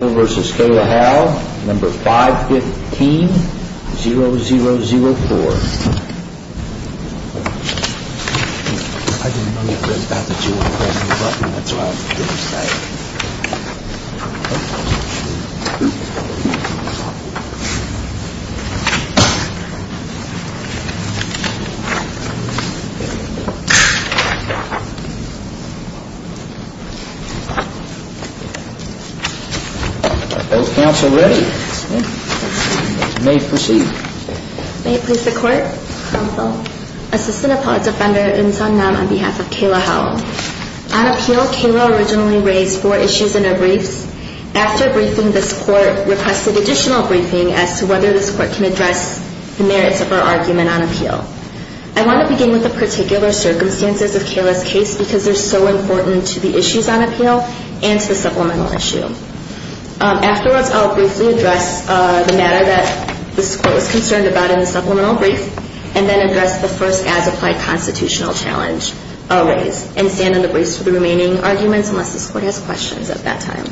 vs. Kayla Howell, No. 515-0004. Are both counsel ready? You may proceed. May it please the Court, Counsel, Assistant Appellate Defender Im Sun Nam on behalf of Kayla Howell. On appeal, Kayla originally raised four issues in her briefs. After briefing, this Court requested additional briefing as to whether this Court can address the merits of her argument on appeal. I want to begin with the particular circumstances of Kayla's case because they're so important to the issues on appeal and to the supplemental issue. Afterwards, I'll briefly address the matter that this Court was concerned about in the supplemental brief and then address the first as-applied constitutional challenge raised and stand in the briefs for the remaining arguments unless this Court has questions at that time.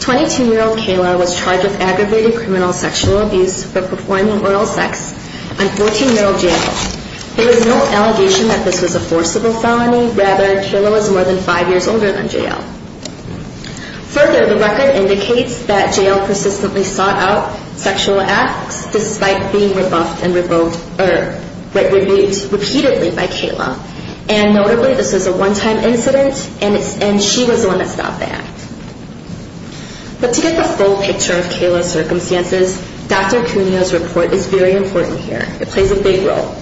Twenty-two-year-old Kayla was charged with aggravated criminal sexual abuse for performing oral sex on 14-year-old J.L. There is no allegation that this was a forcible felony. Rather, Kayla was more than five years older than J.L. Further, the record indicates that J.L. persistently sought out sexual acts despite being rebuffed and revoked repeatedly by Kayla. And notably, this was a one-time incident and she was the one that stopped the act. But to get the full picture of Kayla's circumstances, Dr. Cuneo's report is very important here. It plays a big role.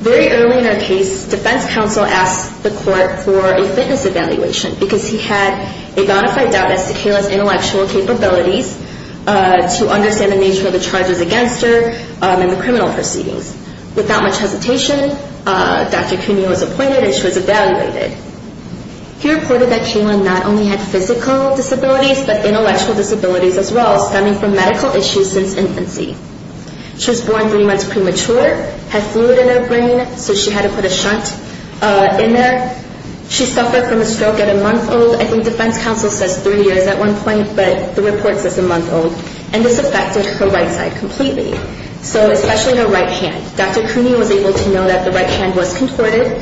Very early in her case, defense counsel asked the Court for a fitness evaluation because he had a bona fide doubt as to Kayla's intellectual capabilities to understand the nature of the charges against her and the criminal proceedings. Without much hesitation, Dr. Cuneo was appointed and she was evaluated. He reported that Kayla not only had physical disabilities but intellectual disabilities as well, stemming from medical issues since infancy. She was born three months premature, had fluid in her brain, so she had to put a shunt in there. She suffered from a stroke at a month old. I think defense counsel says three years at one point, but the report says a month old. And this affected her right side completely, so especially her right hand. Dr. Cuneo was able to know that the right hand was contorted.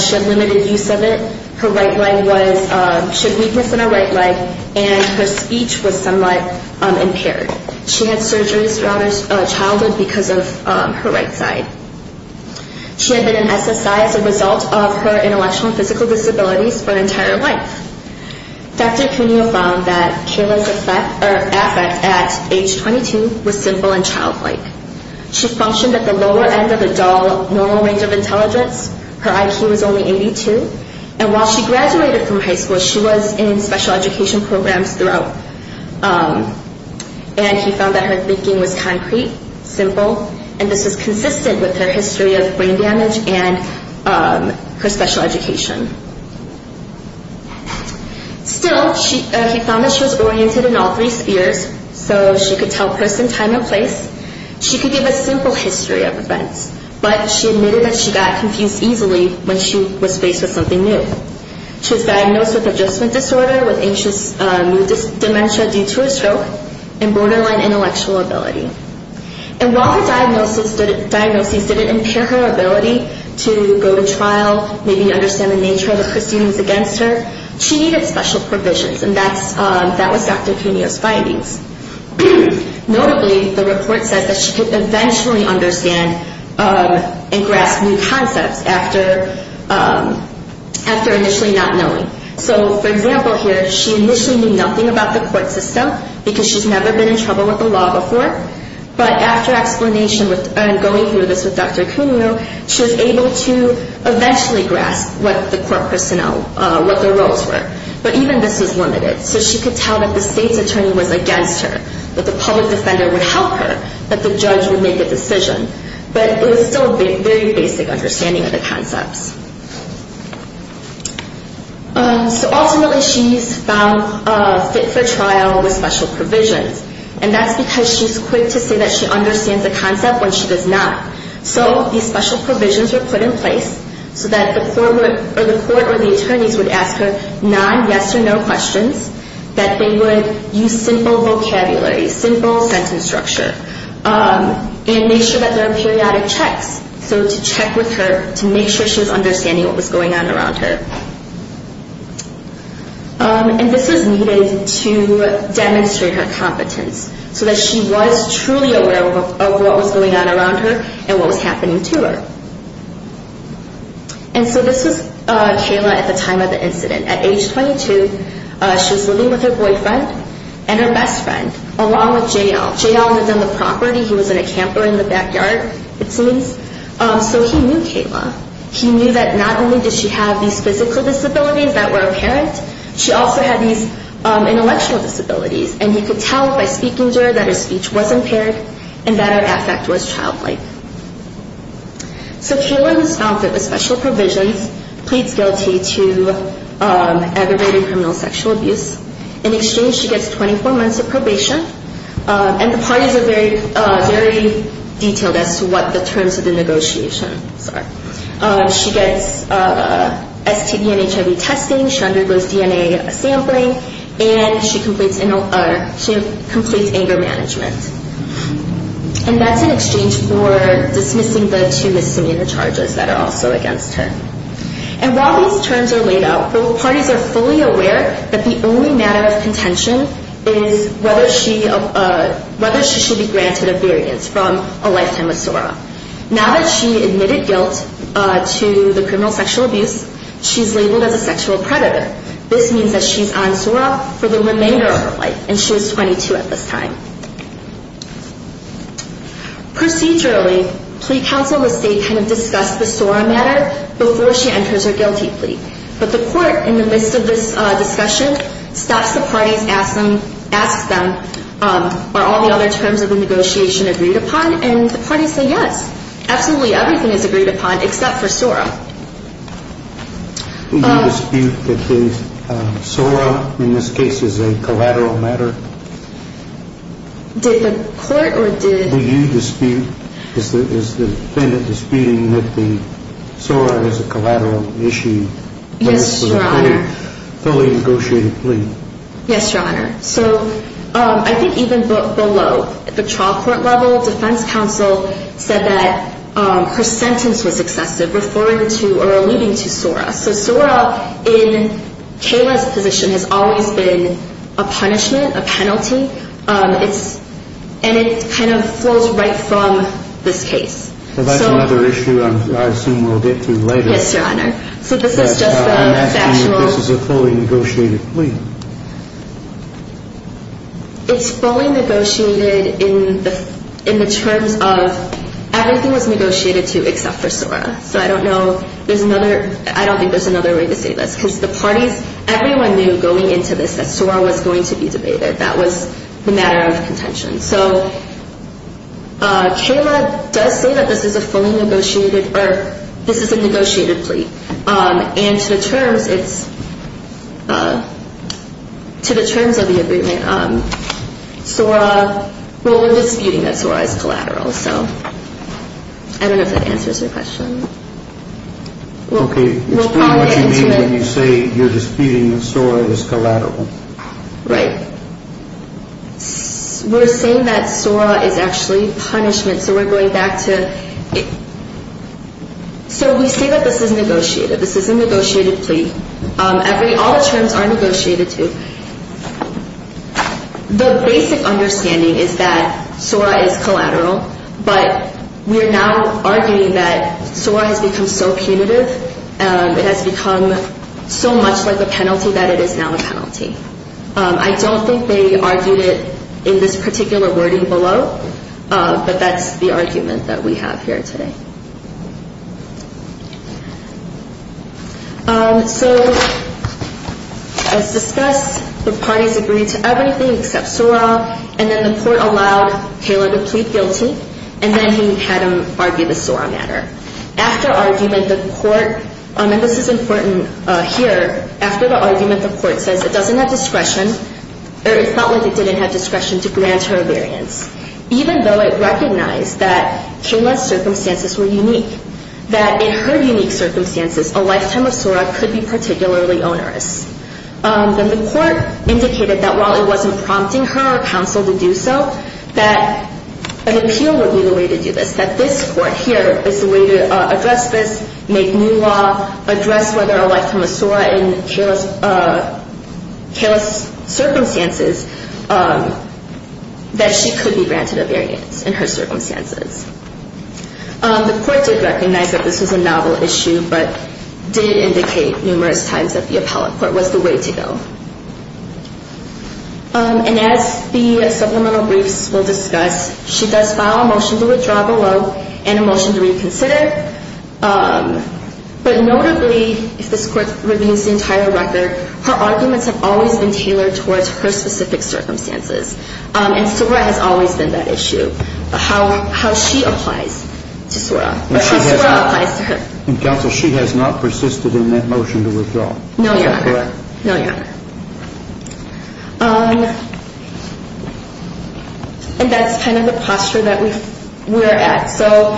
She had limited use of it. Her right leg was, she had weakness in her right leg, and her speech was somewhat impaired. She had surgeries throughout her childhood because of her right side. She had been in SSI as a result of her intellectual and physical disabilities for an entire life. Dr. Cuneo found that Kayla's affect at age 22 was simple and childlike. She functioned at the lower end of the normal range of intelligence. Her IQ was only 82. And while she graduated from high school, she was in special education programs throughout. And he found that her thinking was concrete, simple, and this was consistent with her history of brain damage and her special education. Still, he found that she was oriented in all three spheres, so she could tell person, time, and place. She could give a simple history of events, but she admitted that she got confused easily when she was faced with something new. She was diagnosed with adjustment disorder, with anxious new dementia due to a stroke, and borderline intellectual ability. And while her diagnosis didn't impair her ability to go to trial, maybe understand the nature of the proceedings against her, she needed special provisions, and that was Dr. Cuneo's findings. Notably, the report says that she could eventually understand and grasp new concepts after initially not knowing. So, for example here, she initially knew nothing about the court system because she's never been in trouble with the law before, but after explanation and going through this with Dr. Cuneo, she was able to eventually grasp what the court personnel, what their roles were. But even this was limited, so she could tell that the state's attorney was against her, that the public defender would help her, that the judge would make a decision, but it was still a very basic understanding of the concepts. So ultimately, she's found fit for trial with special provisions, and that's because she's quick to say that she understands the concept when she does not. So these special provisions were put in place so that the court or the attorneys would ask her non-yes-or-no questions, that they would use simple vocabulary, simple sentence structure, and make sure that there are periodic checks, so to check with her to make sure she was understanding what was going on around her. And this was needed to demonstrate her competence, so that she was truly aware of what was going on around her and what was happening to her. And so this was Kayla at the time of the incident. At age 22, she was living with her boyfriend and her best friend, along with J.L. J.L. lived on the property. He was in a camper in the backyard, it seems. So he knew Kayla. He knew that not only did she have these physical disabilities that were apparent, she also had these intellectual disabilities, and he could tell by speaking to her that her speech was impaired and that her affect was childlike. So Kayla was found fit with special provisions, pleads guilty to aggravated criminal sexual abuse. In exchange, she gets 24 months of probation, and the parties are very detailed as to what the terms of the negotiation are. She gets STD and HIV testing, she undergoes DNA sampling, and she completes anger management. And that's in exchange for dismissing the two misdemeanor charges that are also against her. And while these terms are laid out, both parties are fully aware that the only matter of contention is whether she should be granted a variance from a lifetime with SORA. Now that she admitted guilt to the criminal sexual abuse, she's labeled as a sexual predator. This means that she's on SORA for the remainder of her life, and she was 22 at this time. Procedurally, plea counsel and the state kind of discuss the SORA matter before she enters her guilty plea. But the court, in the midst of this discussion, stops the parties, asks them, Are all the other terms of the negotiation agreed upon? And the parties say yes. Absolutely everything is agreed upon except for SORA. Do you dispute that the SORA, in this case, is a collateral matter? Did the court or did... Do you dispute, is the defendant disputing that the SORA is a collateral issue? Yes, Your Honor. Fully negotiated plea. Yes, Your Honor. So I think even below, at the trial court level, defense counsel said that her sentence was excessive referring to or alluding to SORA. So SORA, in Kayla's position, has always been a punishment, a penalty, and it kind of flows right from this case. So that's another issue I assume we'll get to later. Yes, Your Honor. I'm asking if this is a fully negotiated plea. It's fully negotiated in the terms of everything was negotiated to except for SORA. So I don't know, there's another, I don't think there's another way to say this. Because the parties, everyone knew going into this that SORA was going to be debated. That was the matter of contention. So Kayla does say that this is a fully negotiated, or this is a negotiated plea. And to the terms, it's, to the terms of the agreement, SORA, well, we're disputing that SORA is collateral. So I don't know if that answers your question. Okay, explain what you mean when you say you're disputing that SORA is collateral. Right. We're saying that SORA is actually punishment. So we're going back to, so we say that this is negotiated. This is a negotiated plea. Every, all the terms are negotiated to. The basic understanding is that SORA is collateral. But we're now arguing that SORA has become so punitive. It has become so much like a penalty that it is now a penalty. I don't think they argued it in this particular wording below. But that's the argument that we have here today. So as discussed, the parties agreed to everything except SORA. And then the court allowed Kayla to plead guilty. And then he had them argue the SORA matter. After argument, the court, and this is important here. After the argument, the court says it doesn't have discretion, or it felt like it didn't have discretion to grant her a variance. Even though it recognized that Kayla's circumstances were unique, that in her unique circumstances, a lifetime of SORA could be particularly onerous. Then the court indicated that while it wasn't prompting her or counsel to do so, that an appeal would be the way to do this. That this court here is the way to address this, make new law, address whether a lifetime of SORA in Kayla's circumstances, that she could be granted a variance in her circumstances. The court did recognize that this was a novel issue, but did indicate numerous times that the appellate court was the way to go. And as the supplemental briefs will discuss, she does file a motion to withdraw below, and a motion to reconsider. But notably, if this court reviews the entire record, her arguments have always been tailored towards her specific circumstances. And SORA has always been that issue. How she applies to SORA, but how SORA applies to her. And counsel, she has not persisted in that motion to withdraw. Is that correct? No, Your Honor. And that's kind of the posture that we're at. So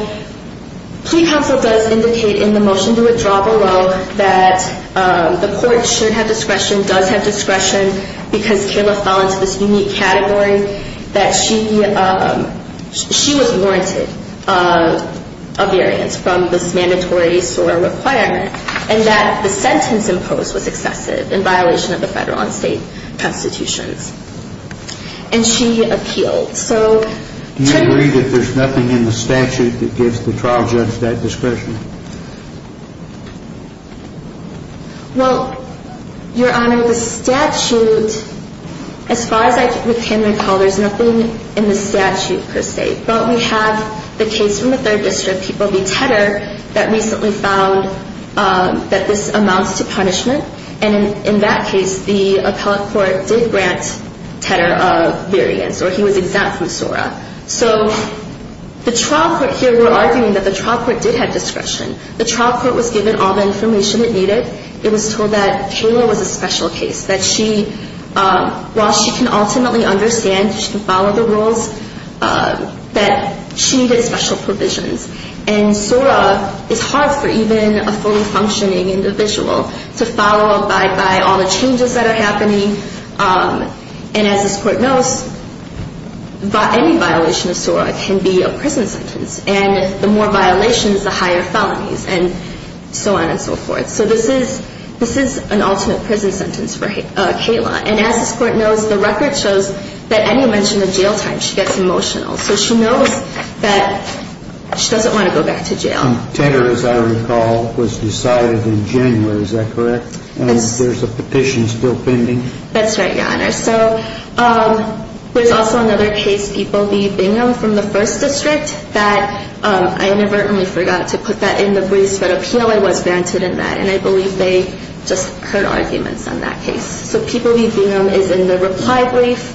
plea counsel does indicate in the motion to withdraw below that the court should have discretion, does have discretion, because Kayla fell into this unique category, that she was warranted a variance from this mandatory SORA requirement. And that the sentence imposed was excessive, in violation of the federal and state constitutions. And she appealed. Do you agree that there's nothing in the statute that gives the trial judge that discretion? Well, Your Honor, the statute, as far as I can recall, there's nothing in the statute per se. But we have the case from the 3rd District, People v. Tedder, that recently found that this amounts to punishment. And in that case, the appellate court did grant Tedder a variance, or he was exempt from SORA. So the trial court here, we're arguing that the trial court did have discretion. The trial court was given all the information it needed. It was told that Kayla was a special case, that she, while she can ultimately understand, she can follow the rules, that she needed special provisions. And SORA is hard for even a fully functioning individual to follow up by all the changes that are happening. And as this court knows, any violation of SORA can be a prison sentence. And the more violations, the higher felonies, and so on and so forth. So this is an ultimate prison sentence for Kayla. And as this court knows, the record shows that any mention of jail time, she gets emotional. So she knows that she doesn't want to go back to jail. And Tedder, as I recall, was decided in January, is that correct? Yes. And there's a petition still pending. That's right, Your Honor. So there's also another case, People v. Bingham from the 1st District, that I inadvertently forgot to put that in the briefs, but appeal was granted in that. And I believe they just heard arguments on that case. So People v. Bingham is in the reply brief,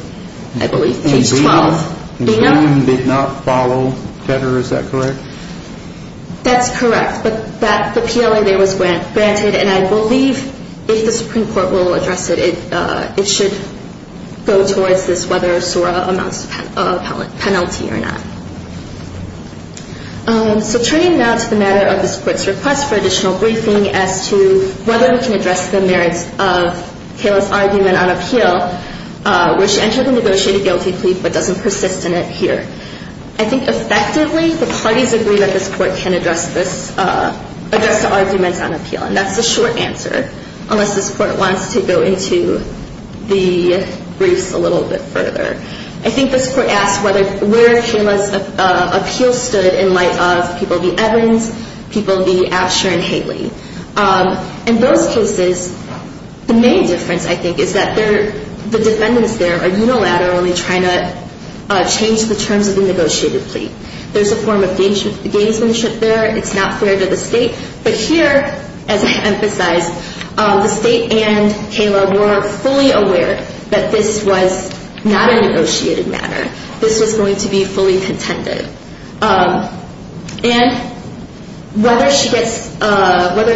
I believe, page 12. Ms. Bingham did not follow Tedder, is that correct? That's correct. But the PLA there was granted. And I believe if the Supreme Court will address it, it should go towards this whether SORA amounts to a penalty or not. So turning now to the matter of this court's request for additional briefing as to whether we can address the merits of Kayla's argument on appeal, which entered the negotiated guilty plea but doesn't persist in it here. I think effectively the parties agree that this court can address this, address the arguments on appeal, and that's the short answer, unless this court wants to go into the briefs a little bit further. I think this court asked where Kayla's appeal stood in light of People v. Evans, People v. Absher and Haley. In those cases, the main difference, I think, is that the defendants there are unilaterally trying to change the terms of the negotiated plea. There's a form of gamesmanship there. It's not fair to the State. But here, as I emphasized, the State and Kayla were fully aware that this was not a negotiated matter. This was going to be fully contended. And whether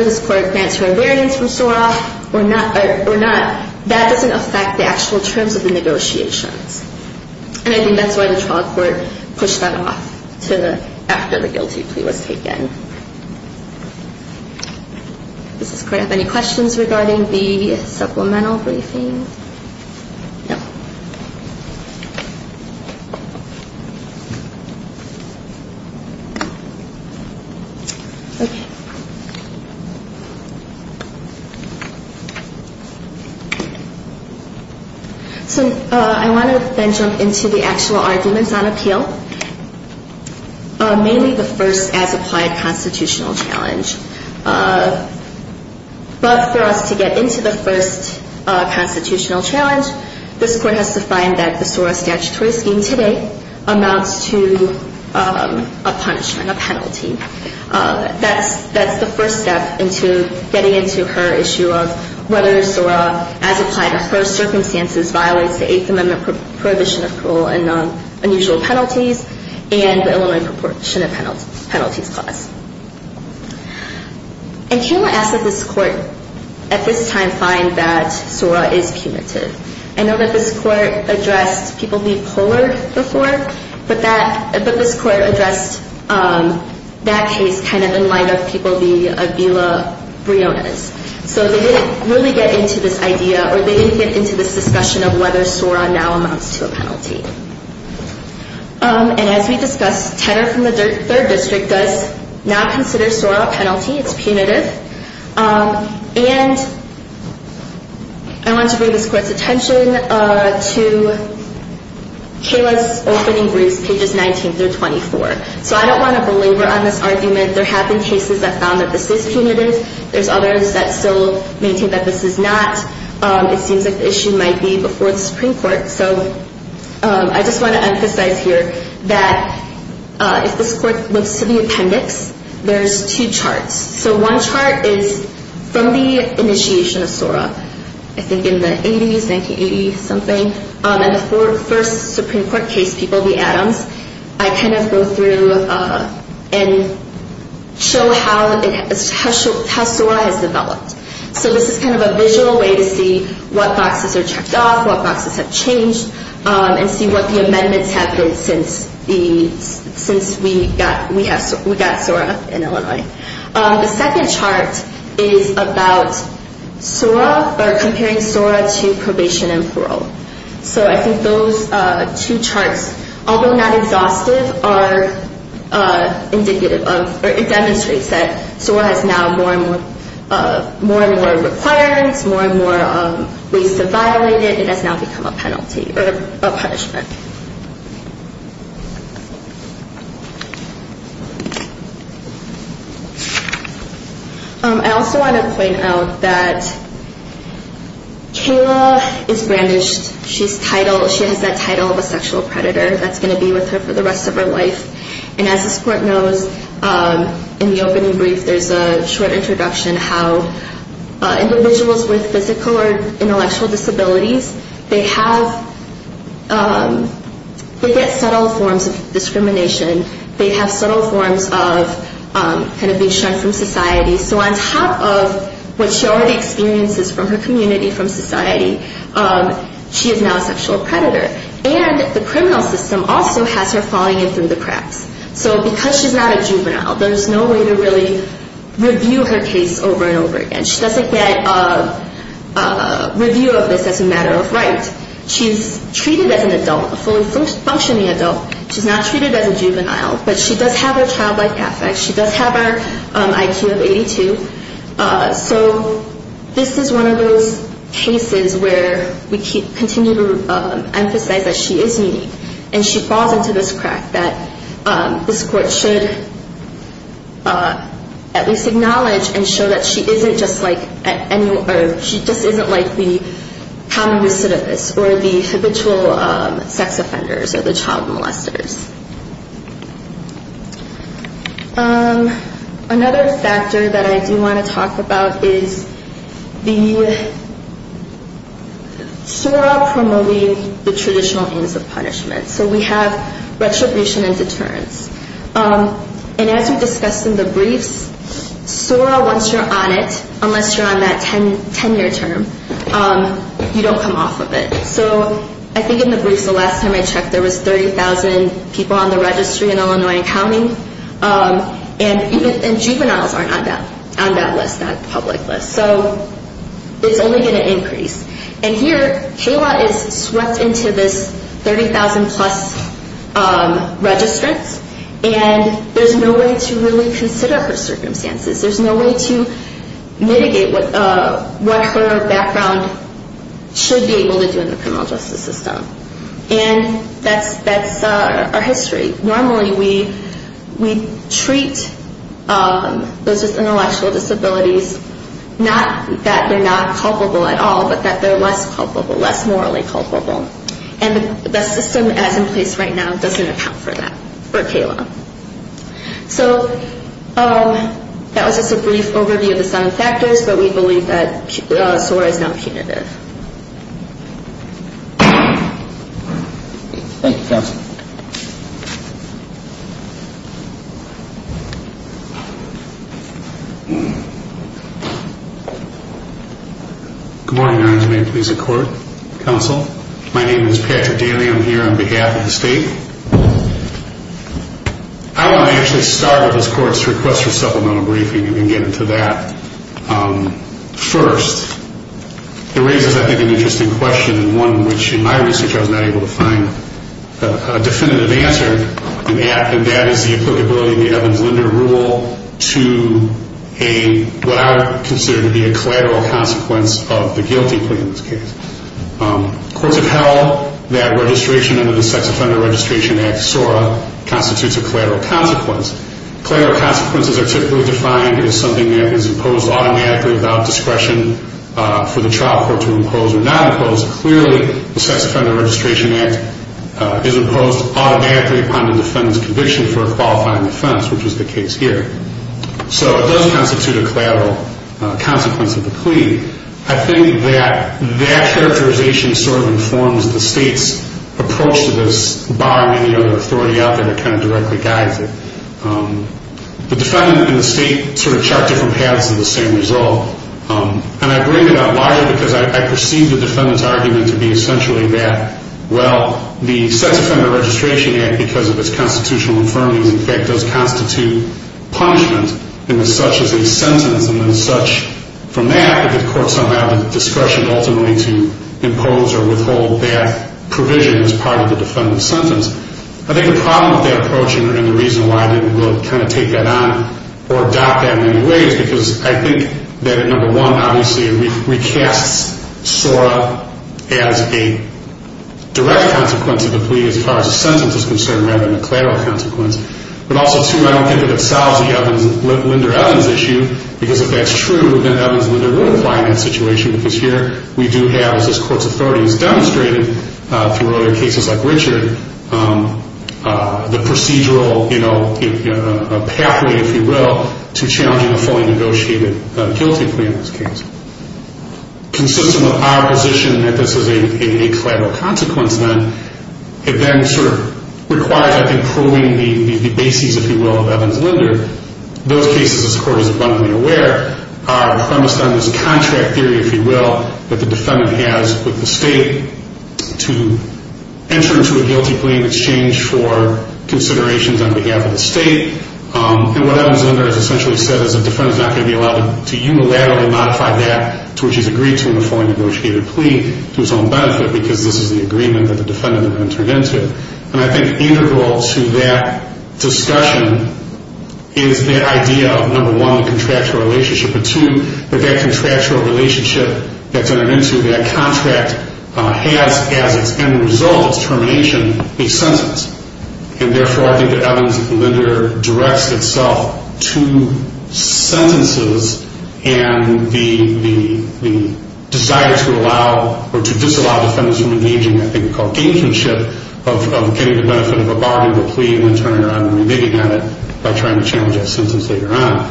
this court grants her invariance from SORA or not, that doesn't affect the actual terms of the negotiations. And I think that's why the trial court pushed that off after the guilty plea was taken. Does this court have any questions regarding the supplemental briefing? No. Okay. So I want to then jump into the actual arguments on appeal, mainly the first as applied constitutional challenge. But for us to get into the first constitutional challenge, this court has to find that the SORA statutory scheme today amounts to a punishment, a penalty. That's the first step into getting into her issue of whether SORA, as applied to her circumstances, violates the Eighth Amendment Prohibition of Cruel and Unusual Penalties and the Illinois Proportionate Penalties Clause. And Kayla asked that this court at this time find that SORA is punitive. I know that this court addressed people being pollard before, but this court addressed that case kind of in light of people being Avila Briones. So they didn't really get into this idea, or they didn't get into this discussion of whether SORA now amounts to a penalty. And as we discussed, Tedder from the Third District does not consider SORA a penalty. It's punitive. And I want to bring this court's attention to Kayla's opening briefs, pages 19 through 24. So I don't want to belabor on this argument. There have been cases that found that this is punitive. There's others that still maintain that this is not. It seems like the issue might be before the Supreme Court. So I just want to emphasize here that if this court looks to the appendix, there's two charts. So one chart is from the initiation of SORA, I think in the 80s, 1980-something. And the first Supreme Court case, people, the Adams, I kind of go through and show how SORA has developed. So this is kind of a visual way to see what boxes are checked off, what boxes have changed, and see what the amendments have been since we got SORA in Illinois. The second chart is about SORA or comparing SORA to probation and parole. So I think those two charts, although not exhaustive, are indicative of or it demonstrates that SORA has now more and more requirements, more and more ways to violate it. It has now become a penalty or a punishment. I also want to point out that Kayla is brandished. She has that title of a sexual predator that's going to be with her for the rest of her life. And as this court knows, in the opening brief, there's a short introduction how individuals with physical or intellectual disabilities, they have, they get subtle forms of discrimination. They have subtle forms of kind of being shunned from society. So on top of what she already experiences from her community, from society, she is now a sexual predator. And the criminal system also has her falling in through the cracks. So because she's not a juvenile, there's no way to really review her case over and over again. She doesn't get a review of this as a matter of right. She's treated as an adult, a fully functioning adult. She's not treated as a juvenile. But she does have her childlike affect. She does have her IQ of 82. So this is one of those cases where we continue to emphasize that she is unique. And she falls into this crack that this court should at least acknowledge and show that she isn't just like any, or she just isn't like the common recidivist or the habitual sex offenders or the child molesters. Another factor that I do want to talk about is the SORA promoting the traditional aims of punishment. So we have retribution and deterrence. And as we discussed in the briefs, SORA, once you're on it, unless you're on that 10-year term, you don't come off of it. So I think in the briefs the last time I checked, there was 30,000 people on the registry in Illinois County. And juveniles aren't on that list, that public list. So it's only going to increase. And here Kayla is swept into this 30,000-plus registrants. And there's no way to really consider her circumstances. There's no way to mitigate what her background should be able to do in the criminal justice system. And that's our history. Normally we treat those with intellectual disabilities not that they're not culpable at all, but that they're less culpable, less morally culpable. And the system as in place right now doesn't account for that for Kayla. So that was just a brief overview of the seven factors, but we believe that SORA is now punitive. Thank you, Counsel. Good morning, Your Honor. May it please the Court? Counsel? My name is Patrick Daly. I'm here on behalf of the State. I want to actually start with this Court's request for supplemental briefing and get into that. First, it raises I think an interesting question and one which in my research I was not able to find a definitive answer. And that is the applicability of the Evans-Linder Rule to what I would consider to be a collateral consequence of the guilty plea in this case. Courts have held that registration under the Sex Offender Registration Act, SORA, constitutes a collateral consequence. Collateral consequences are typically defined as something that is imposed automatically without discretion for the trial court to impose or not impose. Clearly, the Sex Offender Registration Act is imposed automatically upon the defendant's conviction for a qualifying offense, which is the case here. So it does constitute a collateral consequence of the plea. I think that that characterization sort of informs the State's approach to this, bar any other authority out there that kind of directly guides it. The defendant and the State sort of chart different paths to the same result. And I bring it up largely because I perceive the defendant's argument to be essentially that, well, the Sex Offender Registration Act, because of its constitutional infirmities, in fact, does constitute punishment in as such as a sentence and as such from that, the court somehow has discretion ultimately to impose or withhold that provision as part of the defendant's sentence. I think the problem with that approach and the reason why I didn't really kind of take that on or adopt that in any way is because I think that, number one, obviously it recasts SORA as a direct consequence of the plea as far as the sentence is concerned rather than a collateral consequence. But also, two, I don't think that it solves the Linder-Evans issue, because if that's true, then Evans and Linder would apply in that situation, because here we do have, as this Court's authority has demonstrated through earlier cases like Richard, the procedural pathway, if you will, to challenging a fully negotiated guilty plea in this case. Consistent with our position that this is a collateral consequence then, it then sort of requires, I think, approving the bases, if you will, of Evans-Linder. Those cases, this Court is abundantly aware, are premised on this contract theory, if you will, that the defendant has with the state to enter into a guilty plea in exchange for considerations on behalf of the state. And what Evans-Linder has essentially said is the defendant's not going to be allowed to unilaterally modify that to which he's agreed to in a fully negotiated plea to his own benefit, because this is the agreement that the defendant had entered into. And I think integral to that discussion is the idea of, number one, the contractual relationship, but two, that that contractual relationship that's entered into, that contract has as its end result, its termination, a sentence. And therefore, I think that Evans-Linder directs itself to sentences and the desire to allow or to disallow defendants from engaging in what I think is called gamemanship of getting the benefit of a bargain of a plea and then turning around and remitting on it by trying to challenge that sentence later on.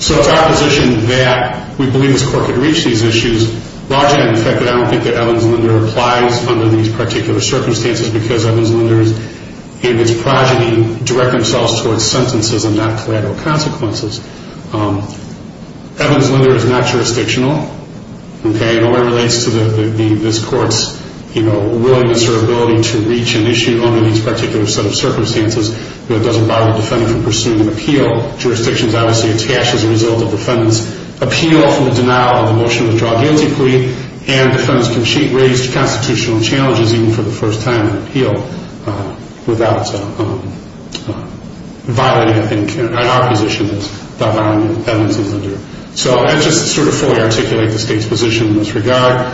So it's our position that we believe this Court could reach these issues largely on the fact that I don't think that Evans-Linder applies under these particular circumstances because Evans-Linder and its progeny direct themselves towards sentences and not collateral consequences. Evans-Linder is not jurisdictional. It only relates to this Court's willingness or ability to reach an issue under these particular set of circumstances. It doesn't bother the defendant from pursuing an appeal. Jurisdiction is obviously attached as a result of the defendant's appeal from the denial of the motion to withdraw a guilty plea. And defendants can raise constitutional challenges even for the first time in an appeal without violating, I think, our position. Without violating Evans-Linder. So I just sort of fully articulate the State's position in this regard.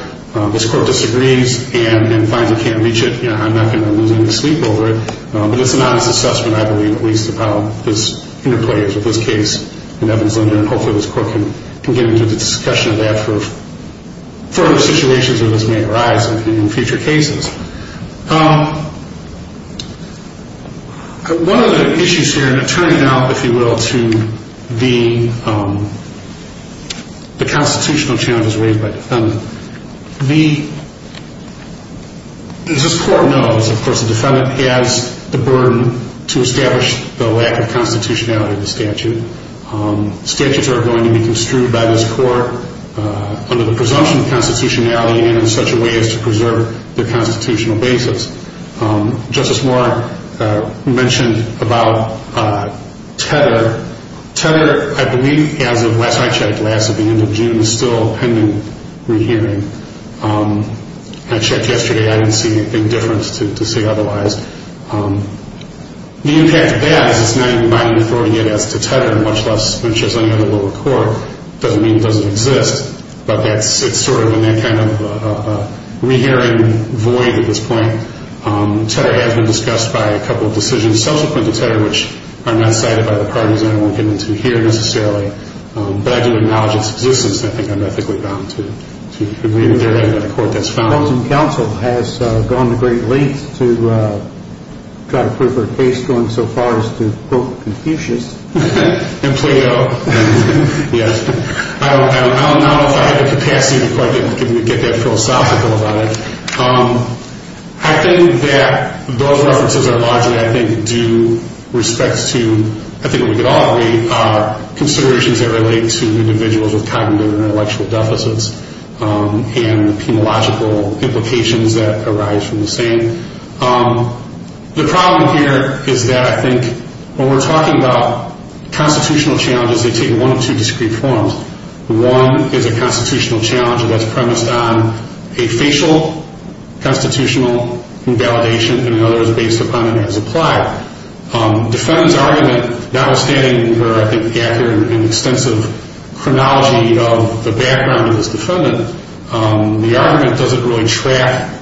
This Court disagrees and finds it can't reach it. I'm not going to lose any sleep over it. But it's an honest assessment, I believe, at least about this interplay of this case and Evans-Linder. And hopefully this Court can get into a discussion of that for further situations where this may arise in future cases. One of the issues here, and it turns out, if you will, to the constitutional challenges raised by the defendant. This Court knows, of course, the defendant has the burden to establish the lack of constitutionality of the statute. Statutes are going to be construed by this Court under the presumption of constitutionality and in such a way as to preserve the constitutionality of the statute. On a constitutional basis. Justice Moore mentioned about tether. Tether, I believe, as of last I checked, last at the end of June, is still pending rehearing. I checked yesterday. I didn't see anything different to say otherwise. The impact of that is it's not even binding authority yet as to tether, much less, which as any other lower court, doesn't mean it doesn't exist. But it's sort of in that kind of a rehearing void at this point. Tether has been discussed by a couple of decisions subsequent to tether, which are not cited by the parties I won't get into here necessarily. But I do acknowledge its existence and I think I'm ethically bound to agree with their end of the Court that's found. Counsel has gone to great lengths to try to prove her case going so far as to quote Confucius. And Plato. Yes. I don't know if I have the capacity to quite get that philosophical about it. I think that those references are largely, I think, due respect to, I think we could all agree, considerations that relate to individuals with cognitive and intellectual deficits and the penological implications that arise from the same. The problem here is that I think when we're talking about constitutional challenges, they take one or two discrete forms. One is a constitutional challenge that's premised on a facial constitutional invalidation and another is based upon an as-applied. Defendant's argument, notwithstanding where I think the accurate and extensive chronology of the background of this defendant, the argument doesn't really track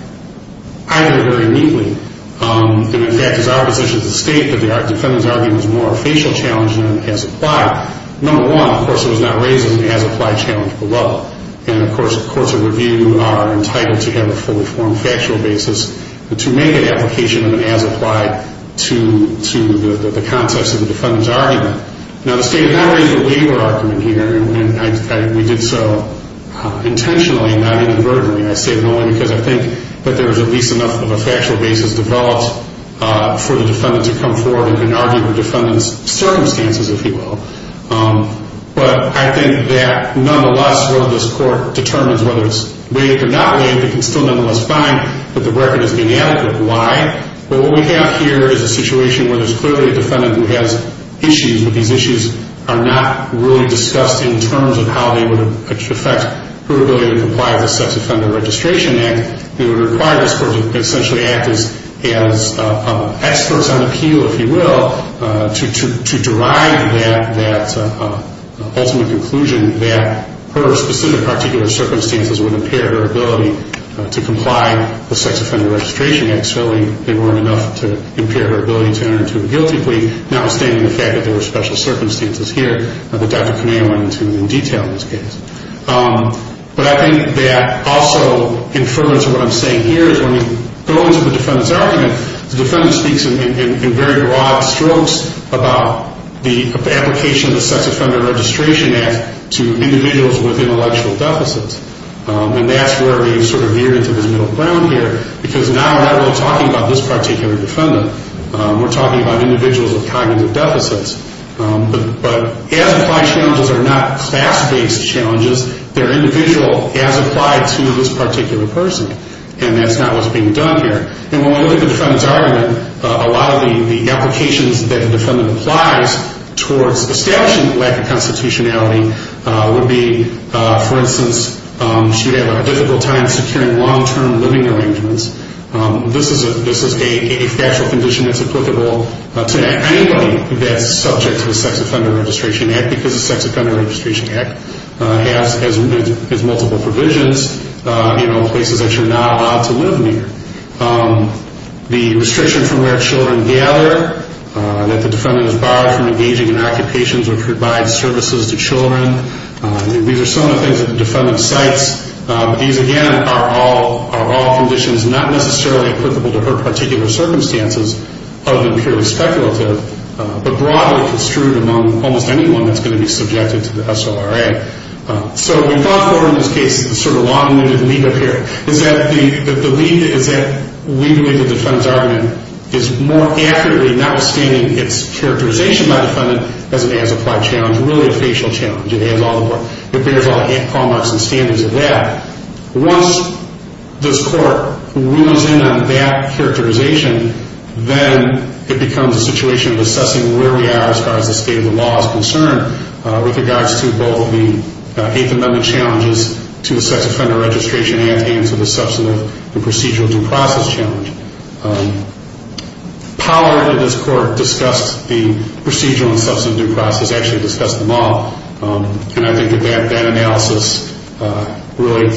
either very neatly. In fact, it's our position as a state that the defendant's argument is more a facial challenge than an as-applied. Number one, of course, it was not raised as an as-applied challenge below. And of course, the review are entitled to have a fully formed factual basis to make an application of an as-applied to the context of the defendant's argument. Now, the state has not raised a waiver argument here, and we did so intentionally and not inadvertently. I say that only because I think that there is at least enough of a factual basis developed for the defendant to come forward and argue the defendant's circumstances, if you will. But I think that nonetheless, while this court determines whether it's waived or not waived, it can still nonetheless find that the record is inadequate. Why? Well, what we have here is a situation where there's clearly a defendant who has issues, but these issues are not really discussed in terms of how they would affect her ability to comply with the Sex Offender Registration Act. It would require this court to essentially act as experts on appeal, if you will, to derive that ultimate conclusion that her specific particular circumstances would impair her ability to comply with the Sex Offender Registration Act. And certainly, they weren't enough to impair her ability to enter into a guilty plea, notwithstanding the fact that there were special circumstances here that Dr. Kameya went into in detail in this case. But I think that also in reference to what I'm saying here is when we go into the defendant's argument, the defendant speaks in very broad strokes about the application of the Sex Offender Registration Act to individuals with intellectual deficits. And that's where we sort of veer into this middle ground here, because now we're not really talking about this particular defendant. We're talking about individuals with cognitive deficits. But as-applied challenges are not class-based challenges. They're individual as-applied to this particular person, and that's not what's being done here. And when we look at the defendant's argument, a lot of the applications that the defendant applies towards establishing lack of constitutionality would be, for instance, she would have a difficult time securing long-term living arrangements. This is a factual condition that's applicable to anybody that's subject to the Sex Offender Registration Act, because the Sex Offender Registration Act has multiple provisions in places that you're not allowed to live near. The restriction from where children gather, that the defendant is barred from engaging in occupations or provide services to children, these are some of the things that the defendant cites. These, again, are all conditions not necessarily applicable to her particular circumstances, other than purely speculative, but broadly construed among almost anyone that's going to be subjected to the SORA. So we thought for, in this case, sort of a long-winded leap up here, is that the leap is that we believe the defendant's argument is more accurately, notwithstanding its characterization by the defendant, as an as-applied challenge, really a facial challenge. It bears all the hallmarks and standards of that. Once this Court rules in on that characterization, then it becomes a situation of assessing where we are as far as the state of the law is concerned with regards to both the Eighth Amendment challenges to the Sex Offender Registration Act and to the Substantive and Procedural Due Process challenge. Powell, under this Court, discussed the Procedural and Substantive Due Process, actually discussed them all, and I think that that analysis really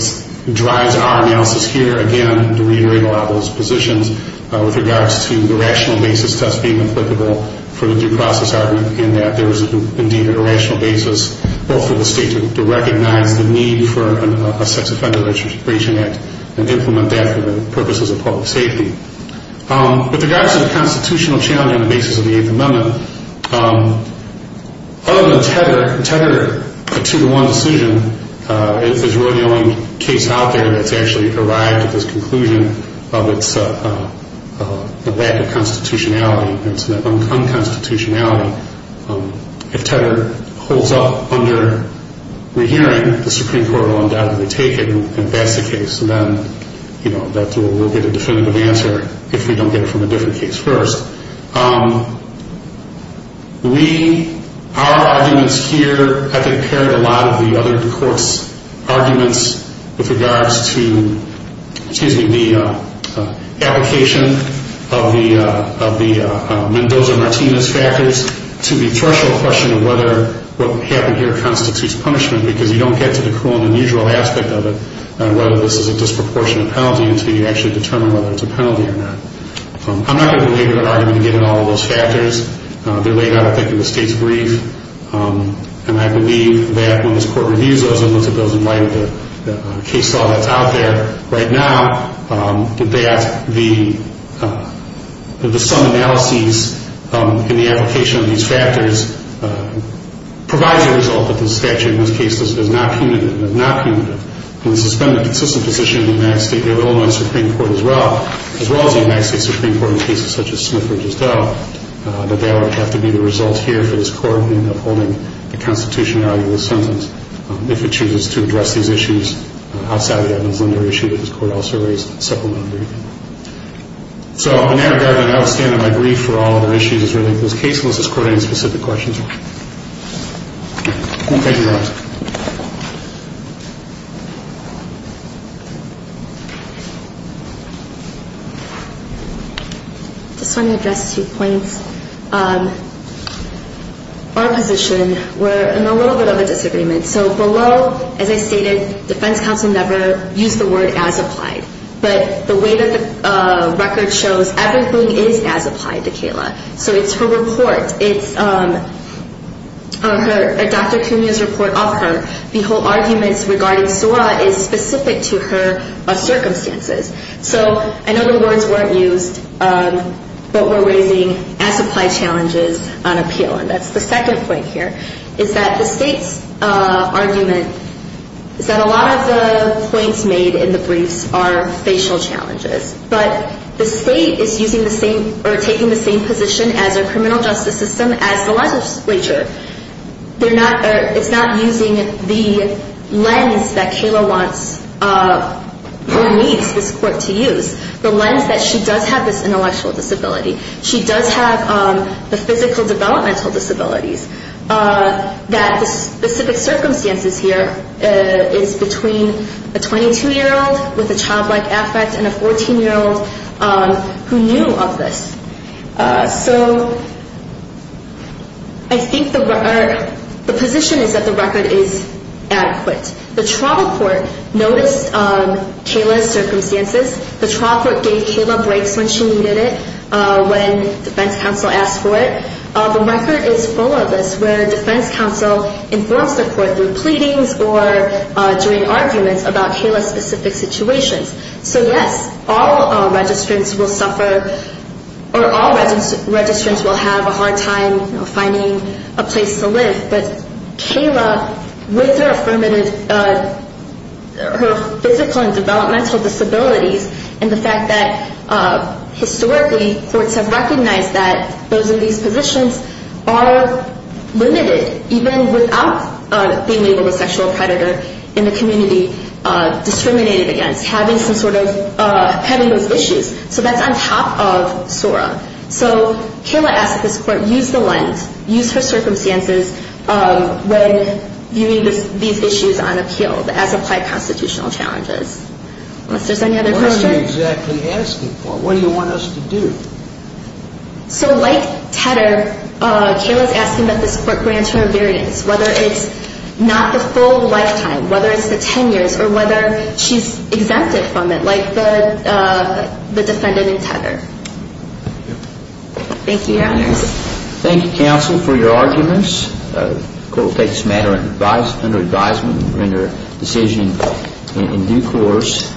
drives our analysis here, again, to reiterate a lot of those positions with regards to the rational basis test being applicable for the due process argument in that there is indeed a rational basis both for the state to recognize the need for a Sex Offender Registration Act and implement that for the purposes of public safety. With regards to the constitutional challenge on the basis of the Eighth Amendment, other than Tedder, Tedder, a two-to-one decision, is really the only case out there that's actually arrived at this conclusion of its lack of constitutionality and its unconstitutionality. If Tedder holds up under rehearing, the Supreme Court will undoubtedly take it, and if that's the case, then we'll get a definitive answer if we don't get it from a different case first. Our arguments here, I think, pair a lot of the other courts' arguments with regards to the application of the Mendoza-Martinez factors to the threshold question of whether what happened here constitutes punishment, because you don't get to the cruel and unusual aspect of it, whether this is a disproportionate penalty until you actually determine whether it's a penalty or not. I'm not going to belabor that argument and get into all of those factors. They're laid out, I think, in the state's brief, and I believe that when this Court reviews those and looks at those in light of the case law that's out there right now, that the sum analyses in the application of these factors provides a result that the statute in this case does not punitive. In the suspended consistent position of the United States Supreme Court as well, as well as the United States Supreme Court in cases such as Smith versus Doe, that that would have to be the result here for this Court in upholding the constitutionality of the sentence if it chooses to address these issues outside of the evidence-lender issue that this Court also raised in the supplemental briefing. So, in that regard, I now stand on my brief for all other issues as related to this case, unless this Court has any specific questions. Thank you. Thank you, Your Honor. I just want to address two points. Our position, we're in a little bit of a disagreement. So, below, as I stated, defense counsel never used the word as applied, but the way that the record shows, everything is as applied to Kayla. So, it's her report, it's Dr. Cunha's report of her. The whole argument regarding SORA is specific to her circumstances. So, I know the words weren't used, but we're raising as applied challenges on appeal. And that's the second point here, is that the state's argument is that a lot of the points made in the briefs are facial challenges. But the state is taking the same position as our criminal justice system, as the legislature. It's not using the lens that Kayla wants or needs this Court to use, the lens that she does have this intellectual disability. She does have the physical developmental disabilities. That the specific circumstances here is between a 22-year-old with a childlike affect and a 14-year-old who knew of this. So, I think the position is that the record is adequate. The trial court noticed Kayla's circumstances. The trial court gave Kayla breaks when she needed it, when defense counsel asked for it. The record is full of this, where defense counsel informs the court through pleadings or during arguments about Kayla's specific situations. So, yes, all registrants will suffer, or all registrants will have a hard time finding a place to live. But Kayla, with her physical and developmental disabilities, and the fact that, historically, courts have recognized that those of these positions are limited, even without being labeled a sexual predator in the community, discriminated against, having those issues. So, that's on top of SORA. So, Kayla asks that this Court use the lens, use her circumstances when viewing these issues on appeal, as applied constitutional challenges. Unless there's any other questions? What are you exactly asking for? What do you want us to do? So, like Tedder, Kayla's asking that this Court grant her a variance, whether it's not the full lifetime, whether it's the 10 years, or whether she's exempted from it, like the defendant in Tedder. Thank you. Thank you, Your Honors. Thank you, counsel, for your arguments. The Court will take this matter under advisement and render a decision in due course.